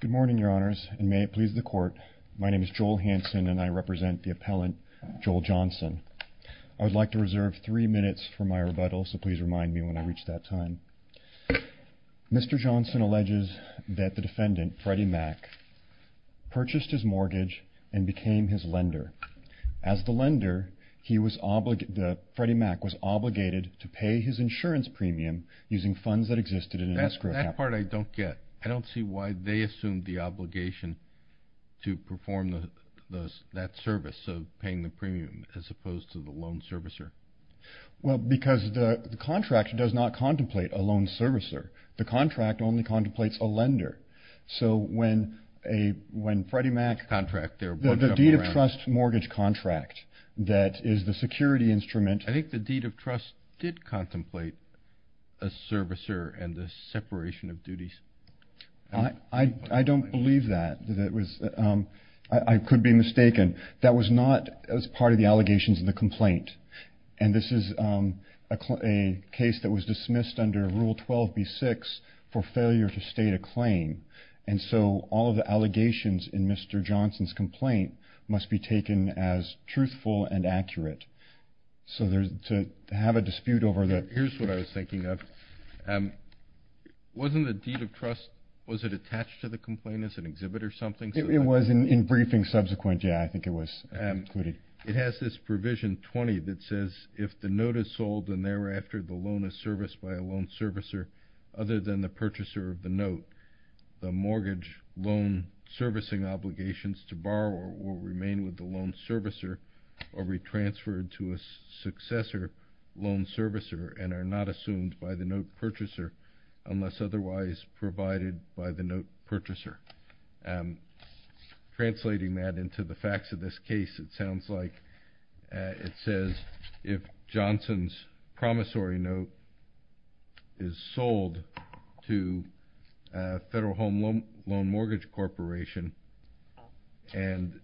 Good morning, Your Honors, and may it please the Court, my name is Joel Hanson and I represent the appellant, Joel Johnson. I would like to reserve three minutes for my rebuttal, so please remind me when I reach that time. Mr. Johnson alleges that the defendant, Freddie Mac, purchased his mortgage and became his lender. As the lender, Freddie Mac was obligated to pay his insurance premium using funds that existed in an escrow account. That part I don't get. I don't see why they assumed the obligation to perform that service of paying the premium as opposed to the loan servicer. Well, because the contract does not contemplate a loan servicer. The contract only contemplates a lender. So when Freddie Mac, the deed of trust mortgage contract that is the security instrument. I think the deed of trust did contemplate a servicer and the separation of duties. I don't believe that. I could be mistaken. That was not as part of the allegations in the complaint. And this is a case that was dismissed under Rule 12b-6 for failure to state a claim. And so all of the allegations in Mr. Johnson's complaint must be taken as truthful and accurate. So to have a dispute over that. Here's what I was thinking of. Wasn't the deed of trust, was it attached to the complaint as an exhibit or something? It was in briefing subsequent. Yeah, I think it was included. It has this provision 20 that says, if the note is sold and thereafter the loan is serviced by a loan servicer other than the purchaser of the note, the mortgage loan servicing obligations to borrow will remain with the loan servicer or be transferred to a successor loan servicer and are not assumed by the note purchaser unless otherwise provided by the note purchaser. Translating that into the facts of this case, it sounds like it says if Johnson's promissory note is sold to Federal Home Loan Mortgage Corporation and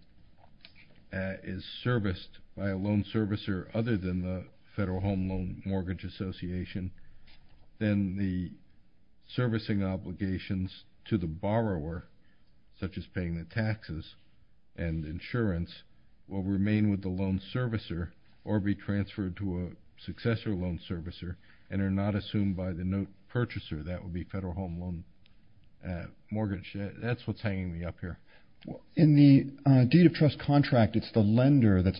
is serviced by a loan servicer other than the Federal Home Loan Mortgage Association, then the servicing obligations to the borrower, such as paying the taxes and insurance, will remain with the loan servicer or be transferred to a successor loan servicer and are not assumed by the note purchaser. That would be Federal Home Loan Mortgage. That's what's hanging me up here. In the deed of trust contract, it's the lender that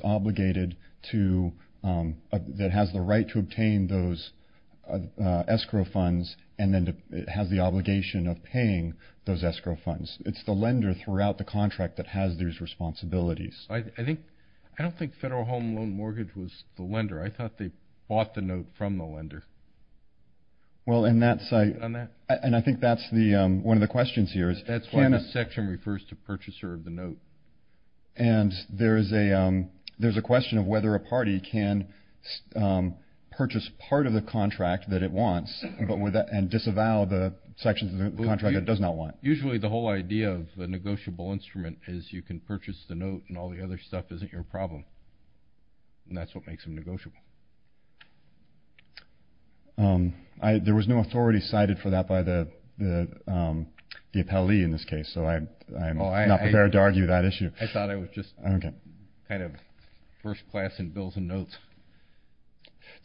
has the right to obtain those escrow funds and then has the obligation of paying those escrow funds. It's the lender throughout the contract that has these responsibilities. I don't think Federal Home Loan Mortgage was the lender. I thought they bought the note from the lender. Well, and I think that's one of the questions here. That's why the section refers to purchaser of the note. And there's a question of whether a party can purchase part of the contract that it wants and disavow the sections of the contract it does not want. Usually the whole idea of a negotiable instrument is you can purchase the note and all the other stuff isn't your problem, and that's what makes them negotiable. There was no authority cited for that by the appellee in this case, so I'm not prepared to argue that issue. I thought it was just kind of first class in bills and notes.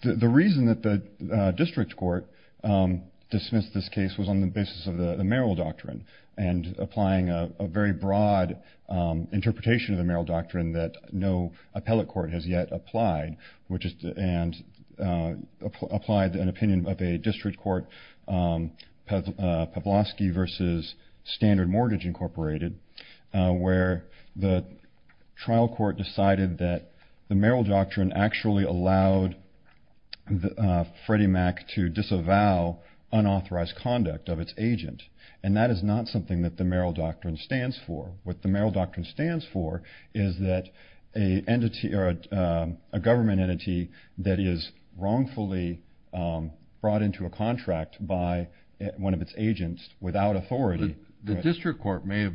The reason that the district court dismissed this case was on the basis of the Merrill Doctrine and applying a very broad interpretation of the Merrill Doctrine that no appellate court has yet applied, and applied an opinion of a district court, Pavlosky v. Standard Mortgage Incorporated, where the trial court decided that the Merrill Doctrine actually allowed Freddie Mac to disavow unauthorized conduct of its agent, and that is not something that the Merrill Doctrine stands for. What the Merrill Doctrine stands for is that a government entity that is wrongfully brought into a contract by one of its agents without authority. The district court may have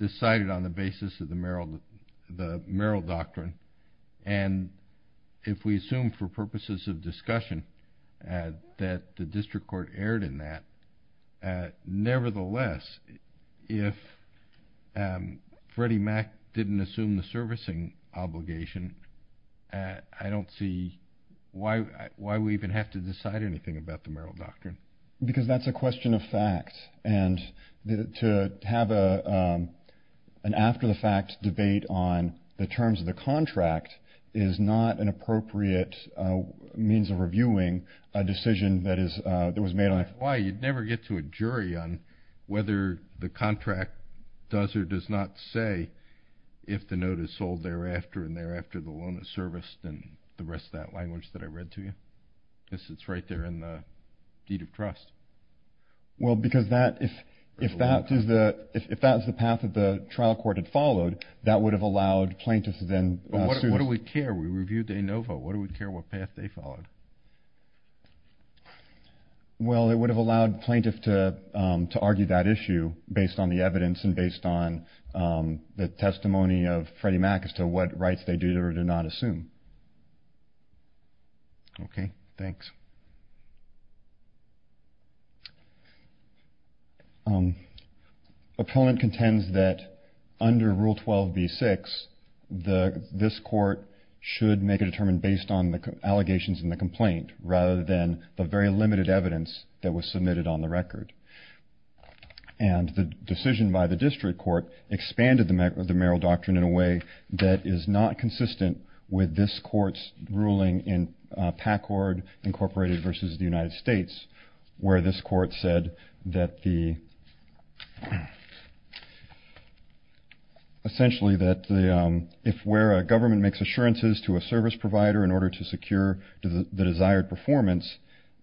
decided on the basis of the Merrill Doctrine, and if we assume for purposes of discussion that the district court erred in that, nevertheless, if Freddie Mac didn't assume the servicing obligation, I don't see why we even have to decide anything about the Merrill Doctrine. Because that's a question of fact, and to have an after-the-fact debate on the terms of the contract is not an appropriate means of reviewing a decision that was made on it. I don't know why you'd never get to a jury on whether the contract does or does not say if the note is sold thereafter and thereafter the loan is serviced and the rest of that language that I read to you. I guess it's right there in the deed of trust. Well, because if that was the path that the trial court had followed, that would have allowed plaintiffs to then sue. But what do we care? We reviewed de novo. What do we care what path they followed? Well, it would have allowed plaintiffs to argue that issue based on the evidence and based on the testimony of Freddie Mac as to what rights they do or do not assume. Okay, thanks. Appellant contends that under Rule 12b-6, this court should make a determinant based on the allegations in the complaint rather than the very limited evidence that was submitted on the record. And the decision by the district court expanded the Merrill Doctrine in a way that is not consistent with this court's ruling in Packard, Incorporated versus the United States, where this court said essentially that if where a government makes assurances to a service provider in order to secure the desired performance,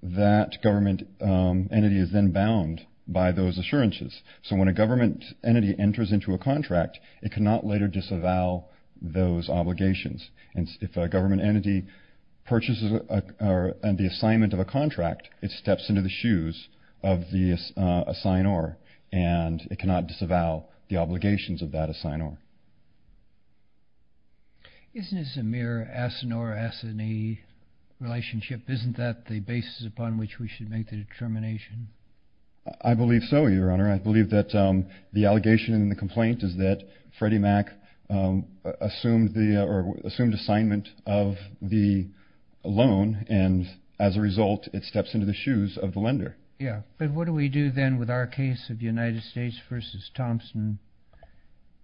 that government entity is then bound by those assurances. So when a government entity enters into a contract, it cannot later disavow those obligations. And if a government entity purchases the assignment of a contract, it steps into the shoes of the assignor and it cannot disavow the obligations of that assignor. Isn't this a mere assinor-assinee relationship? Isn't that the basis upon which we should make the determination? I believe so, Your Honor. I believe that the allegation in the complaint is that Freddie Mac assumed the or assumed assignment of the loan, and as a result it steps into the shoes of the lender. But what do we do then with our case of United States versus Thompson?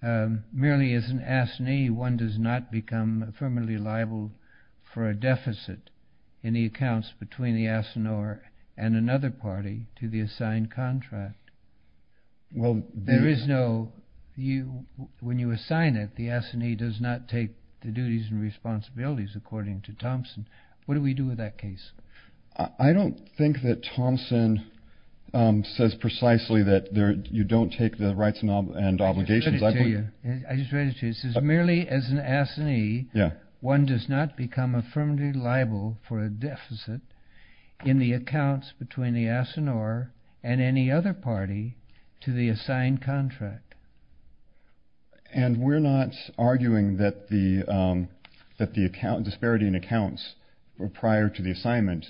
Merely as an assinee, one does not become affirmatively liable for a deficit in the accounts between the assignor and another party to the assigned contract. There is no, when you assign it, the assinee does not take the duties and responsibilities according to Thompson. What do we do with that case? I don't think that Thompson says precisely that you don't take the rights and obligations. I just read it to you. It says merely as an assinee, one does not become affirmatively liable for a deficit in the accounts between the assignor and any other party to the assigned contract. And we're not arguing that the disparity in accounts prior to the assignment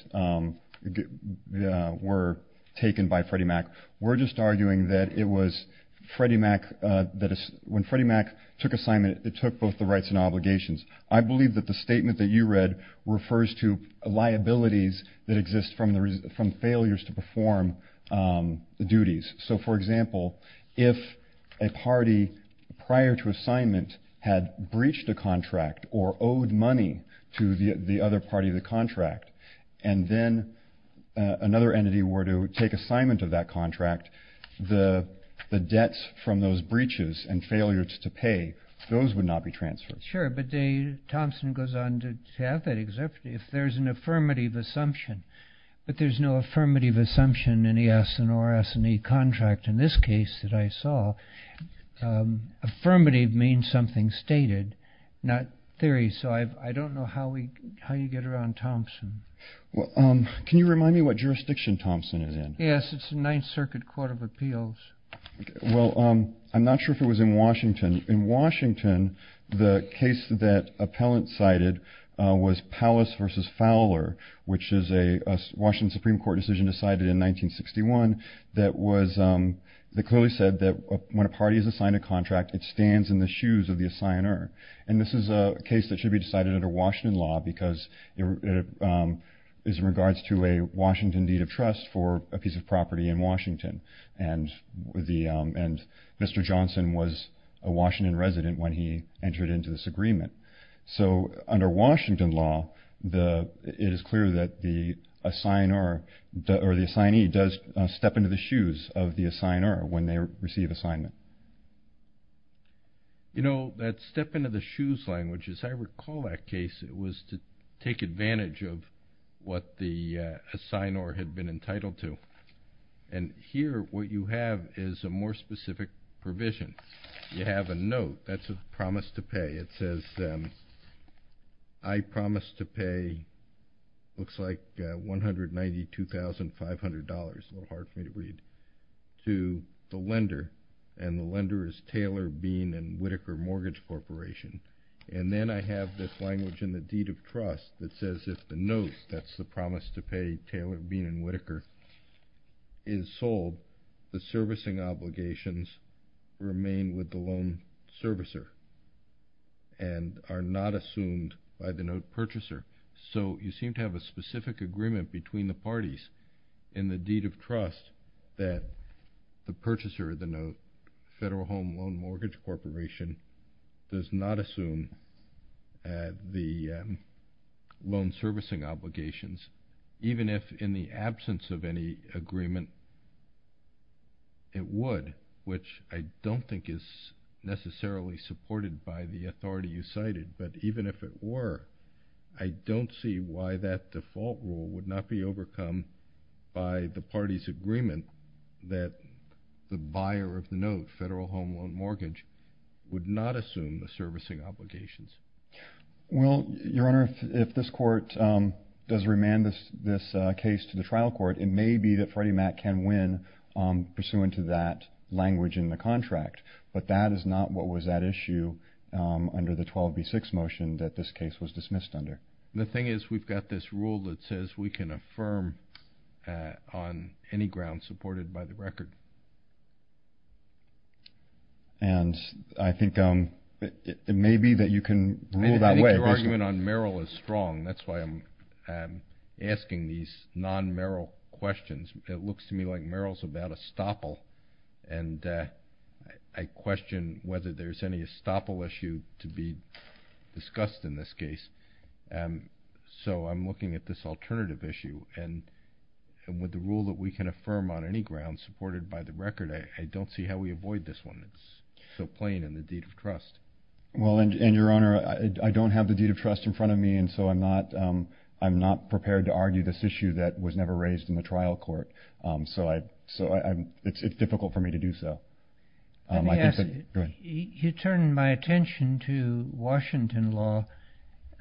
were taken by Freddie Mac. We're just arguing that when Freddie Mac took assignment, it took both the rights and obligations. I believe that the statement that you read refers to liabilities that exist from failures to perform duties. So, for example, if a party prior to assignment had breached a contract or owed money to the other party of the contract and then another entity were to take assignment of that contract, the debts from those breaches and failures to pay, those would not be transferred. Sure, but Thompson goes on to have that. If there's an affirmative assumption, but there's no affirmative assumption in the assignor-assinee contract in this case that I saw, affirmative means something stated, not theory. So I don't know how you get around Thompson. Can you remind me what jurisdiction Thompson is in? Yes, it's the Ninth Circuit Court of Appeals. Well, I'm not sure if it was in Washington. In Washington, the case that appellant cited was Powis v. Fowler, which is a Washington Supreme Court decision decided in 1961 that clearly said that when a party is assigned a contract, it stands in the shoes of the assignor. And this is a case that should be decided under Washington law because it is in regards to a Washington deed of trust for a piece of property in Washington. And Mr. Johnson was a Washington resident when he entered into this agreement. So under Washington law, it is clear that the assignor or the assignee does step into the shoes of the assignor when they receive assignment. You know, that step into the shoes language, as I recall that case, it was to take advantage of what the assignor had been entitled to. And here, what you have is a more specific provision. You have a note. That's a promise to pay. It says, I promise to pay, looks like $192,500, a little hard for me to read, to the lender. And the lender is Taylor Bean and Whittaker Mortgage Corporation. And then I have this language in the deed of trust that says if the note, that's the promise to pay Taylor Bean and Whittaker, is sold, the servicing obligations remain with the loan servicer and are not assumed by the note purchaser. So you seem to have a specific agreement between the parties in the deed of trust that the purchaser of the note, Federal Home Loan Mortgage Corporation, does not assume the loan servicing obligations, even if in the absence of any agreement it would, which I don't think is necessarily supported by the authority you cited. But even if it were, I don't see why that default rule would not be overcome by the party's agreement that the buyer of the note, Federal Home Loan Mortgage, would not assume the servicing obligations. Well, Your Honor, if this court does remand this case to the trial court, it may be that Freddie Mac can win pursuant to that language in the contract. But that is not what was at issue under the 12B6 motion that this case was dismissed under. The thing is we've got this rule that says we can affirm on any ground supported by the record. And I think it may be that you can rule that way. I think your argument on Merrill is strong. That's why I'm asking these non-Merrill questions. It looks to me like Merrill's about estoppel, and I question whether there's any estoppel issue to be discussed in this case. So I'm looking at this alternative issue. And with the rule that we can affirm on any ground supported by the record, I don't see how we avoid this one. It's so plain in the deed of trust. Well, and, Your Honor, I don't have the deed of trust in front of me, and so I'm not prepared to argue this issue that was never raised in the trial court. So it's difficult for me to do so. Let me ask. Go ahead. You turn my attention to Washington law.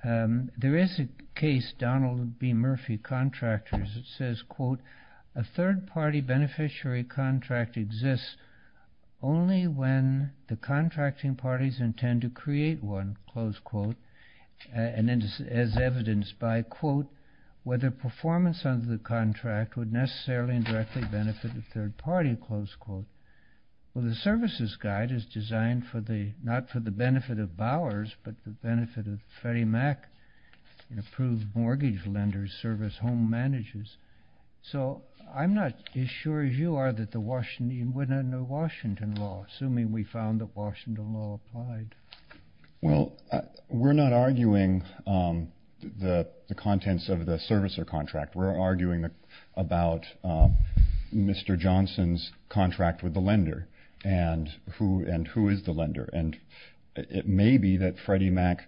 There is a case, Donald B. Murphy, Contractors. It says, quote, A third-party beneficiary contract exists only when the contracting parties intend to create one, close quote, as evidenced by, quote, whether performance under the contract would necessarily and directly benefit the third party, close quote. Well, the services guide is designed not for the benefit of Bowers, but the benefit of Freddie Mac and approved mortgage lenders, service home managers. So I'm not as sure as you are that the Washington law, assuming we found that Washington law applied. Well, we're not arguing the contents of the servicer contract. We're arguing about Mr. Johnson's contract with the lender and who is the lender. And it may be that Freddie Mac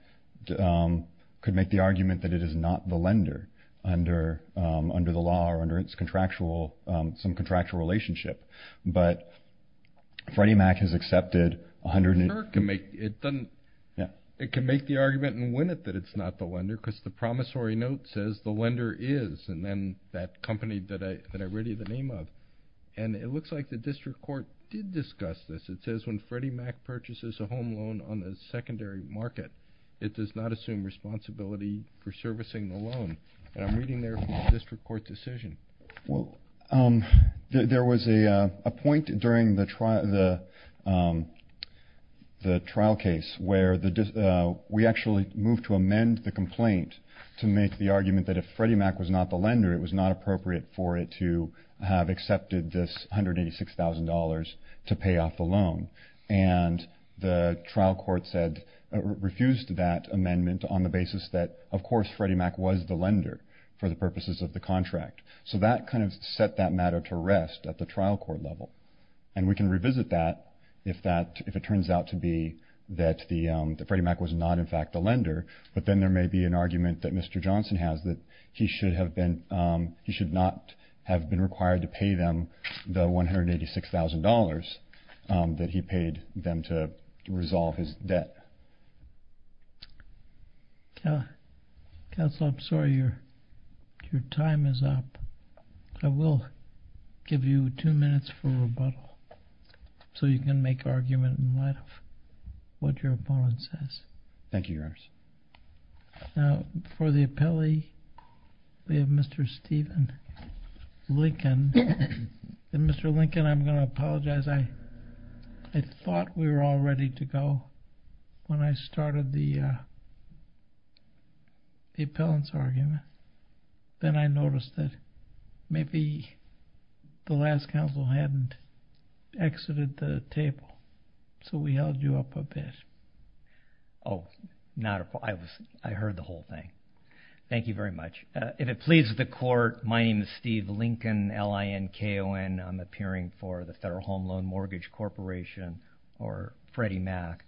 could make the argument that it is not the lender under the law or under its contractual, some contractual relationship. But Freddie Mac has accepted 100. It can make the argument and win it that it's not the lender because the promissory note says the lender is, and then that company that I read you the name of. And it looks like the district court did discuss this. It says when Freddie Mac purchases a home loan on the secondary market, it does not assume responsibility for servicing the loan. And I'm reading there from the district court decision. Well, there was a point during the trial case where we actually moved to amend the complaint to make the argument that if Freddie Mac was not the lender, it was not appropriate for it to have accepted this $186,000 to pay off the loan. And the trial court refused that amendment on the basis that, of course, Freddie Mac was the lender for the purposes of the contract. So that kind of set that matter to rest at the trial court level. And we can revisit that if it turns out to be that Freddie Mac was not, in fact, the lender. But then there may be an argument that Mr. Johnson has that he should not have been required to pay them the $186,000 that he paid them to resolve his debt. Counsel, I'm sorry. Your time is up. I will give you two minutes for rebuttal so you can make argument in light of what your opponent says. Thank you, Your Honor. Now, for the appellee, we have Mr. Stephen Lincoln. And Mr. Lincoln, I'm going to apologize. I thought we were all ready to go when I started the appellant's argument. Then I noticed that maybe the last counsel hadn't exited the table. So we held you up a bit. Oh, not a problem. I heard the whole thing. Thank you very much. If it pleases the court, my name is Steve Lincoln, L-I-N-K-O-N. I'm appearing for the Federal Home Loan Mortgage Corporation or Freddie Mac.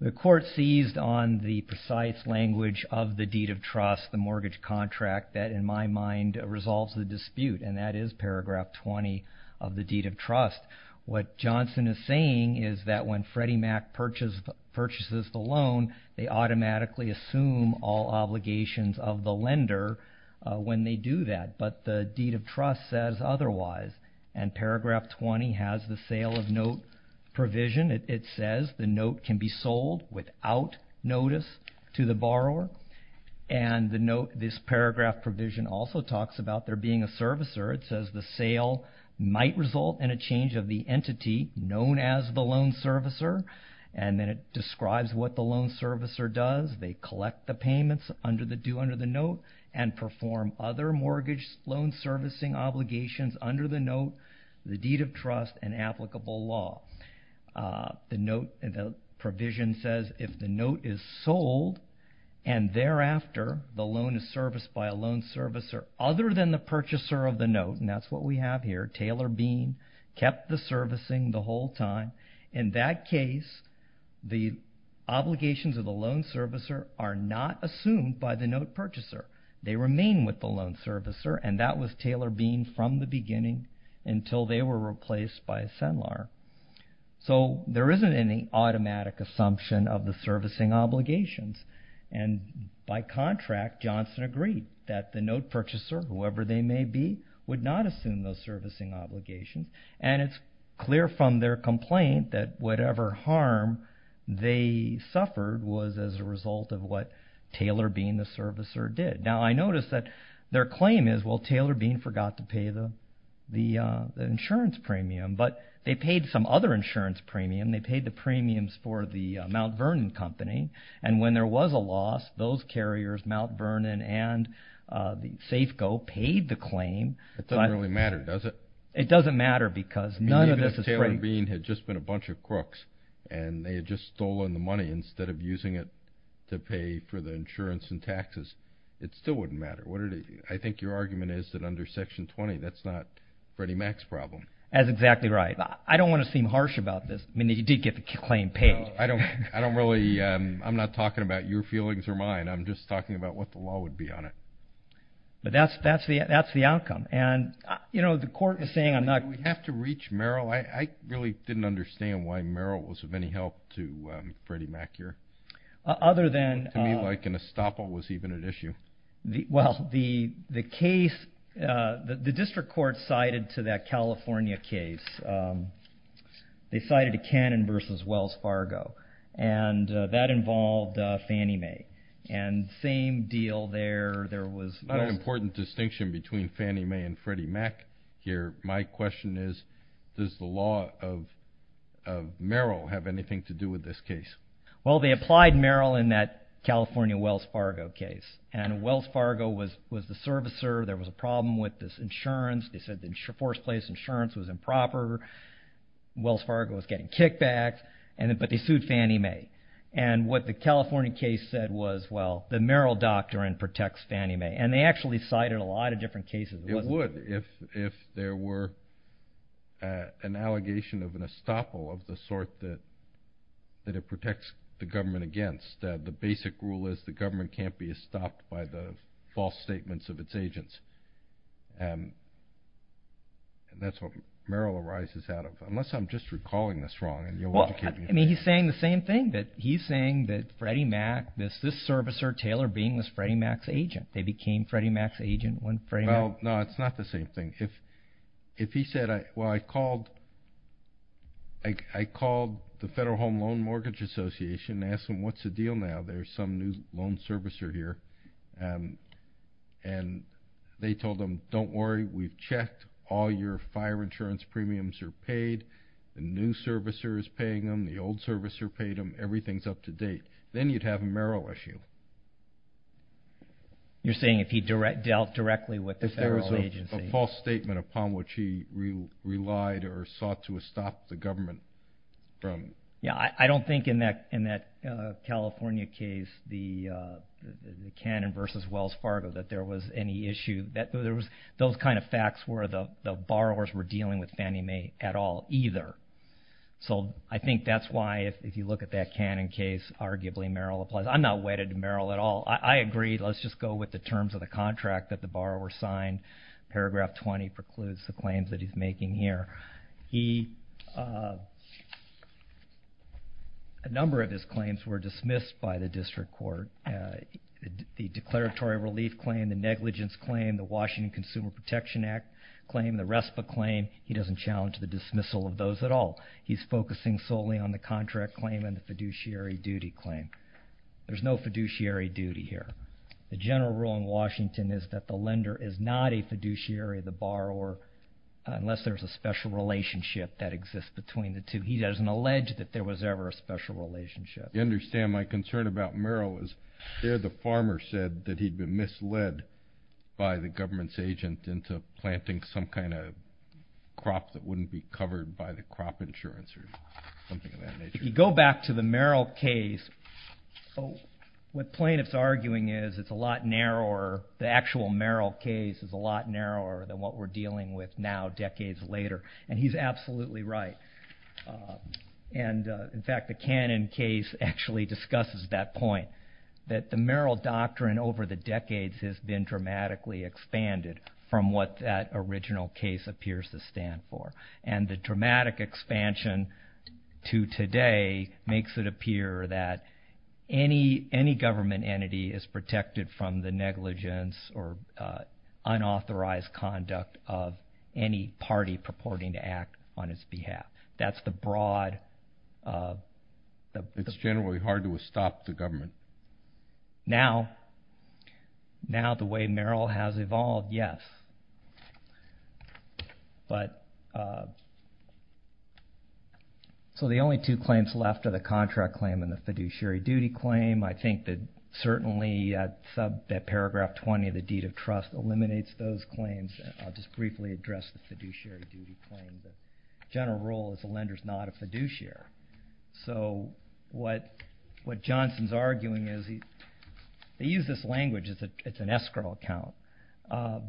The court seized on the precise language of the deed of trust, the mortgage contract, that in my mind resolves the dispute, and that is paragraph 20 of the deed of trust. What Johnson is saying is that when Freddie Mac purchases the loan, they automatically assume all obligations of the lender when they do that. But the deed of trust says otherwise. And paragraph 20 has the sale of note provision. It says the note can be sold without notice to the borrower. And this paragraph provision also talks about there being a servicer. It says the sale might result in a change of the entity known as the loan servicer, and then it describes what the loan servicer does. They collect the payments under the note and perform other mortgage loan servicing obligations under the note, the deed of trust, and applicable law. The provision says if the note is sold and thereafter the loan is serviced by a loan servicer other than the purchaser of the note, and that's what we have here, Taylor Bean kept the servicing the whole time. In that case, the obligations of the loan servicer are not assumed by the note purchaser. They remain with the loan servicer, and that was Taylor Bean from the beginning until they were replaced by Senlar. So there isn't any automatic assumption of the servicing obligations. And by contract, Johnson agreed that the note purchaser, whoever they may be, would not assume those servicing obligations, and it's clear from their complaint that whatever harm they suffered was as a result of what Taylor Bean, the servicer, did. Now, I notice that their claim is, well, Taylor Bean forgot to pay the insurance premium, but they paid some other insurance premium. They paid the premiums for the Mount Vernon Company, and when there was a loss, those carriers, Mount Vernon and Safeco, paid the claim. It doesn't really matter, does it? It doesn't matter because none of this is free. Even if Taylor Bean had just been a bunch of crooks and they had just stolen the money instead of using it to pay for the insurance and taxes, it still wouldn't matter. I think your argument is that under Section 20 that's not Freddie Mac's problem. That's exactly right. I don't want to seem harsh about this. I mean, he did get the claim paid. I'm not talking about your feelings or mine. I'm just talking about what the law would be on it. But that's the outcome. And, you know, the court was saying I'm not... Do we have to reach Merrill? I really didn't understand why Merrill was of any help to Freddie Mac here. Other than... To me, like an estoppel was even an issue. Well, the case, the district court sided to that California case. They sided to Cannon v. Wells Fargo. And that involved Fannie Mae. And same deal there. There was... Not an important distinction between Fannie Mae and Freddie Mac here. My question is does the law of Merrill have anything to do with this case? Well, they applied Merrill in that California Wells Fargo case. And Wells Fargo was the servicer. There was a problem with this insurance. They said the first place insurance was improper. Wells Fargo was getting kickbacks. But they sued Fannie Mae. And what the California case said was, well, the Merrill doctrine protects Fannie Mae. And they actually cited a lot of different cases. It would if there were an allegation of an estoppel of the sort that it protects the government against. The basic rule is the government can't be estopped by the false statements of its agents. And that's what Merrill arises out of. Unless I'm just recalling this wrong. I mean, he's saying the same thing. He's saying that Freddie Mac, this servicer, Taylor Bean, was Freddie Mac's agent. They became Freddie Mac's agent when Freddie Mac... Well, no, it's not the same thing. If he said, well, I called the Federal Home Loan Mortgage Association and asked them what's the deal now. There's some new loan servicer here. And they told him, don't worry, we've checked. All your fire insurance premiums are paid. The new servicer is paying them. The old servicer paid them. Everything's up to date. Then you'd have a Merrill issue. You're saying if he dealt directly with the federal agency. If there was a false statement upon which he relied or sought to estop the government from... Yeah, I don't think in that California case, the Cannon versus Wells Fargo, that there was any issue. Those kind of facts were the borrowers were dealing with Fannie Mae at all either. So I think that's why if you look at that Cannon case, arguably Merrill applies. I'm not wedded to Merrill at all. I agree. Let's just go with the terms of the contract that the borrower signed. Paragraph 20 precludes the claims that he's making here. A number of his claims were dismissed by the district court. The declaratory relief claim, the negligence claim, the Washington Consumer Protection Act claim, the RESPA claim. He doesn't challenge the dismissal of those at all. He's focusing solely on the contract claim and the fiduciary duty claim. There's no fiduciary duty here. The general rule in Washington is that the lender is not a fiduciary of the borrower unless there's a special relationship that exists between the two. He doesn't allege that there was ever a special relationship. You understand my concern about Merrill is there the farmer said that he'd been misled by the government's agent into planting some kind of crop that wouldn't be covered by the crop insurance or something of that nature. If you go back to the Merrill case, what plaintiff's arguing is it's a lot narrower. The actual Merrill case is a lot narrower than what we're dealing with now decades later. He's absolutely right. In fact, the Cannon case actually discusses that point, that the Merrill doctrine over the decades has been dramatically expanded from what that original case appears to stand for. The dramatic expansion to today makes it appear that any government entity is protected from the negligence or unauthorized conduct of any party purporting to act on its behalf. That's the broad... It's generally hard to stop the government. Now, the way Merrill has evolved, yes. The only two claims left are the contract claim and the fiduciary duty claim. I think that certainly that Paragraph 20 of the Deed of Trust eliminates those claims. I'll just briefly address the fiduciary duty claim. The general rule is the lender's not a fiduciary. So what Johnson's arguing is they use this language, it's an escrow account.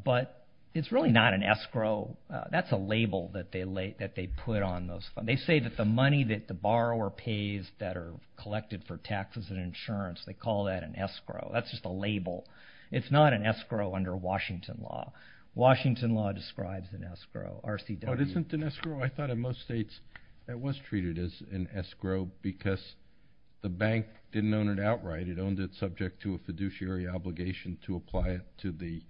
But it's really not an escrow. That's a label that they put on those. They say that the money that the borrower pays that are collected for taxes and insurance, they call that an escrow. That's just a label. It's not an escrow under Washington law. Washington law describes an escrow, RCW. Oh, it isn't an escrow? I thought in most states it was treated as an escrow because the bank didn't own it outright. It owned it subject to a fiduciary obligation to apply it to the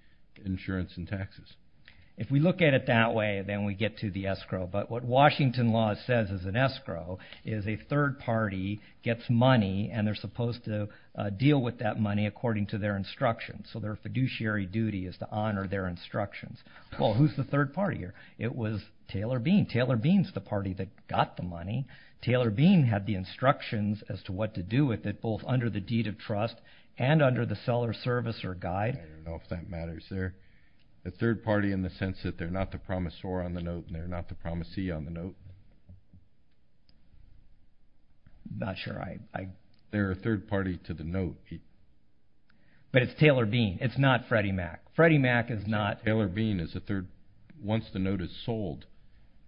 insurance and taxes. If we look at it that way, then we get to the escrow. But what Washington law says is an escrow is a third party gets money and they're supposed to deal with that money according to their instructions. So their fiduciary duty is to honor their instructions. Well, who's the third party here? It was Taylor Bean. Taylor Bean's the party that got the money. Taylor Bean had the instructions as to what to do with it, both under the Deed of Trust and under the Seller Service or Guide. I don't know if that matters there. A third party in the sense that they're not the promisor on the note and they're not the promisee on the note? I'm not sure. They're a third party to the note. But it's Taylor Bean. It's not Freddie Mac. Freddie Mac is not. So Taylor Bean is a third. Once the note is sold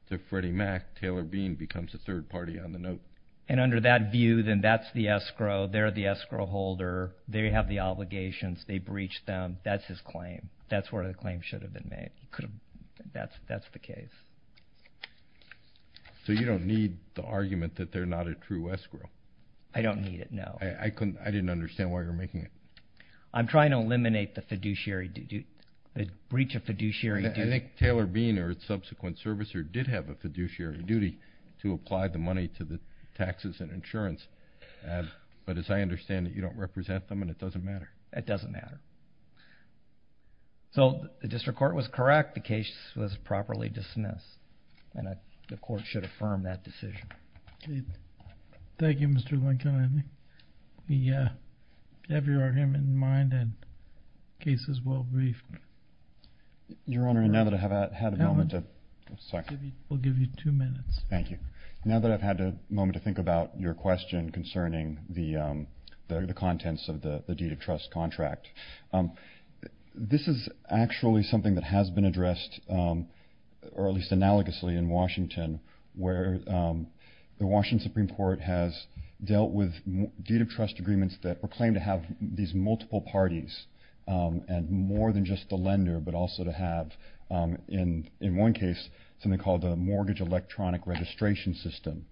to Freddie Mac, Taylor Bean becomes a third party on the note. And under that view, then that's the escrow. They're the escrow holder. They have the obligations. They breach them. That's his claim. That's where the claim should have been made. That's the case. So you don't need the argument that they're not a true escrow? I don't need it, no. I didn't understand why you were making it. I'm trying to eliminate the fiduciary duty, the breach of fiduciary duty. I think Taylor Bean or its subsequent servicer did have a fiduciary duty to apply the money to the taxes and insurance. But as I understand it, you don't represent them and it doesn't matter. It doesn't matter. So the district court was correct. The case was properly dismissed. And the court should affirm that decision. Thank you, Mr. Lincoln. We have your argument in mind and the case is well briefed. Your Honor, now that I've had a moment to think about your question concerning the contents of the deed of trust contract, this is actually something that has been addressed, or at least analogously in Washington, where the Washington Supreme Court has dealt with deed of trust agreements that were claimed to have these multiple parties and more than just the lender, but also to have, in one case, something called the Mortgage Electronic Registration System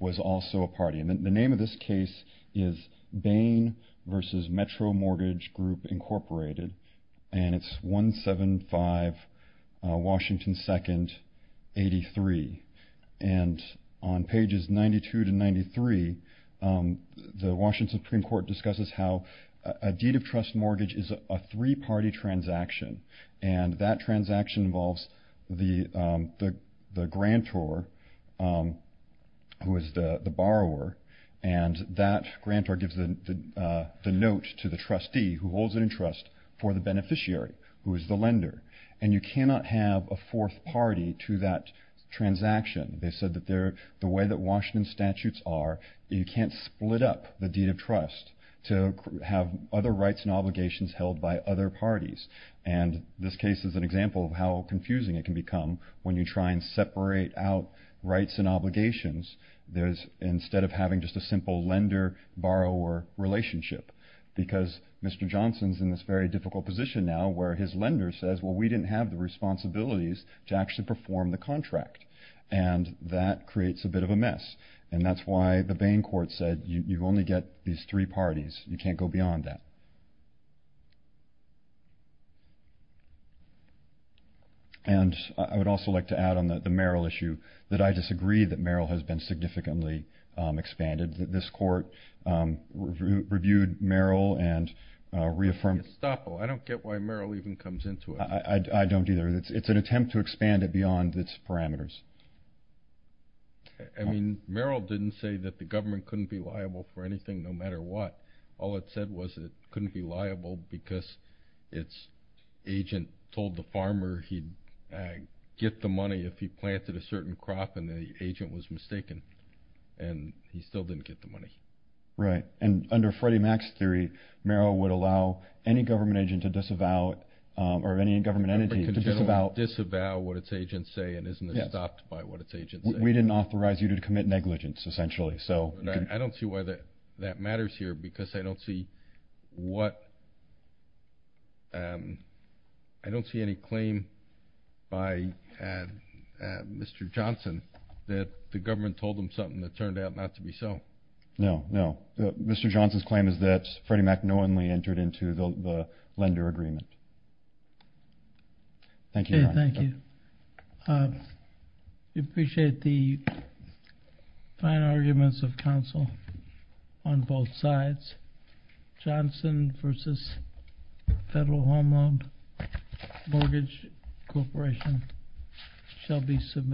was also a party. And the name of this case is Bain versus Metro Mortgage Group Incorporated and it's 175 Washington 2nd 83. And on pages 92 to 93, the Washington Supreme Court discusses how a deed of trust mortgage is a three-party transaction and that transaction involves the grantor, who is the borrower, and that grantor gives the note to the trustee, who holds it in trust, for the beneficiary, who is the lender. And you cannot have a fourth party to that transaction. They said that the way that Washington statutes are, you can't split up the deed of trust to have other rights and obligations held by other parties. And this case is an example of how confusing it can become when you try and separate out rights and obligations, instead of having just a simple lender-borrower relationship. Because Mr. Johnson is in this very difficult position now where his lender says, well, we didn't have the responsibilities to actually perform the contract. And that creates a bit of a mess. And that's why the Bain court said you only get these three parties. You can't go beyond that. And I would also like to add on the Merrill issue, that I disagree that Merrill has been significantly expanded. This court reviewed Merrill and reaffirmed it. I don't get why Merrill even comes into it. I don't either. It's an attempt to expand it beyond its parameters. I mean, Merrill didn't say that the government couldn't be liable for anything, no matter what. All it said was that it couldn't be liable because its agent told the farmer he'd get the money if he planted a certain crop and the agent was mistaken. And he still didn't get the money. Right. And under Freddie Mac's theory, Merrill would allow any government agent to disavow or any government entity to disavow. Disavow what its agents say and isn't stopped by what its agents say. We didn't authorize you to commit negligence, essentially. I don't see why that matters here because I don't see any claim by Mr. Johnson that the government told him something that turned out not to be so. No, no. Mr. Johnson's claim is that Freddie Mac knowingly entered into the lender agreement. Thank you, Ron. Okay, thank you. We appreciate the fine arguments of counsel on both sides. Johnson v. Federal Home Loan Mortgage Corporation shall be submitted.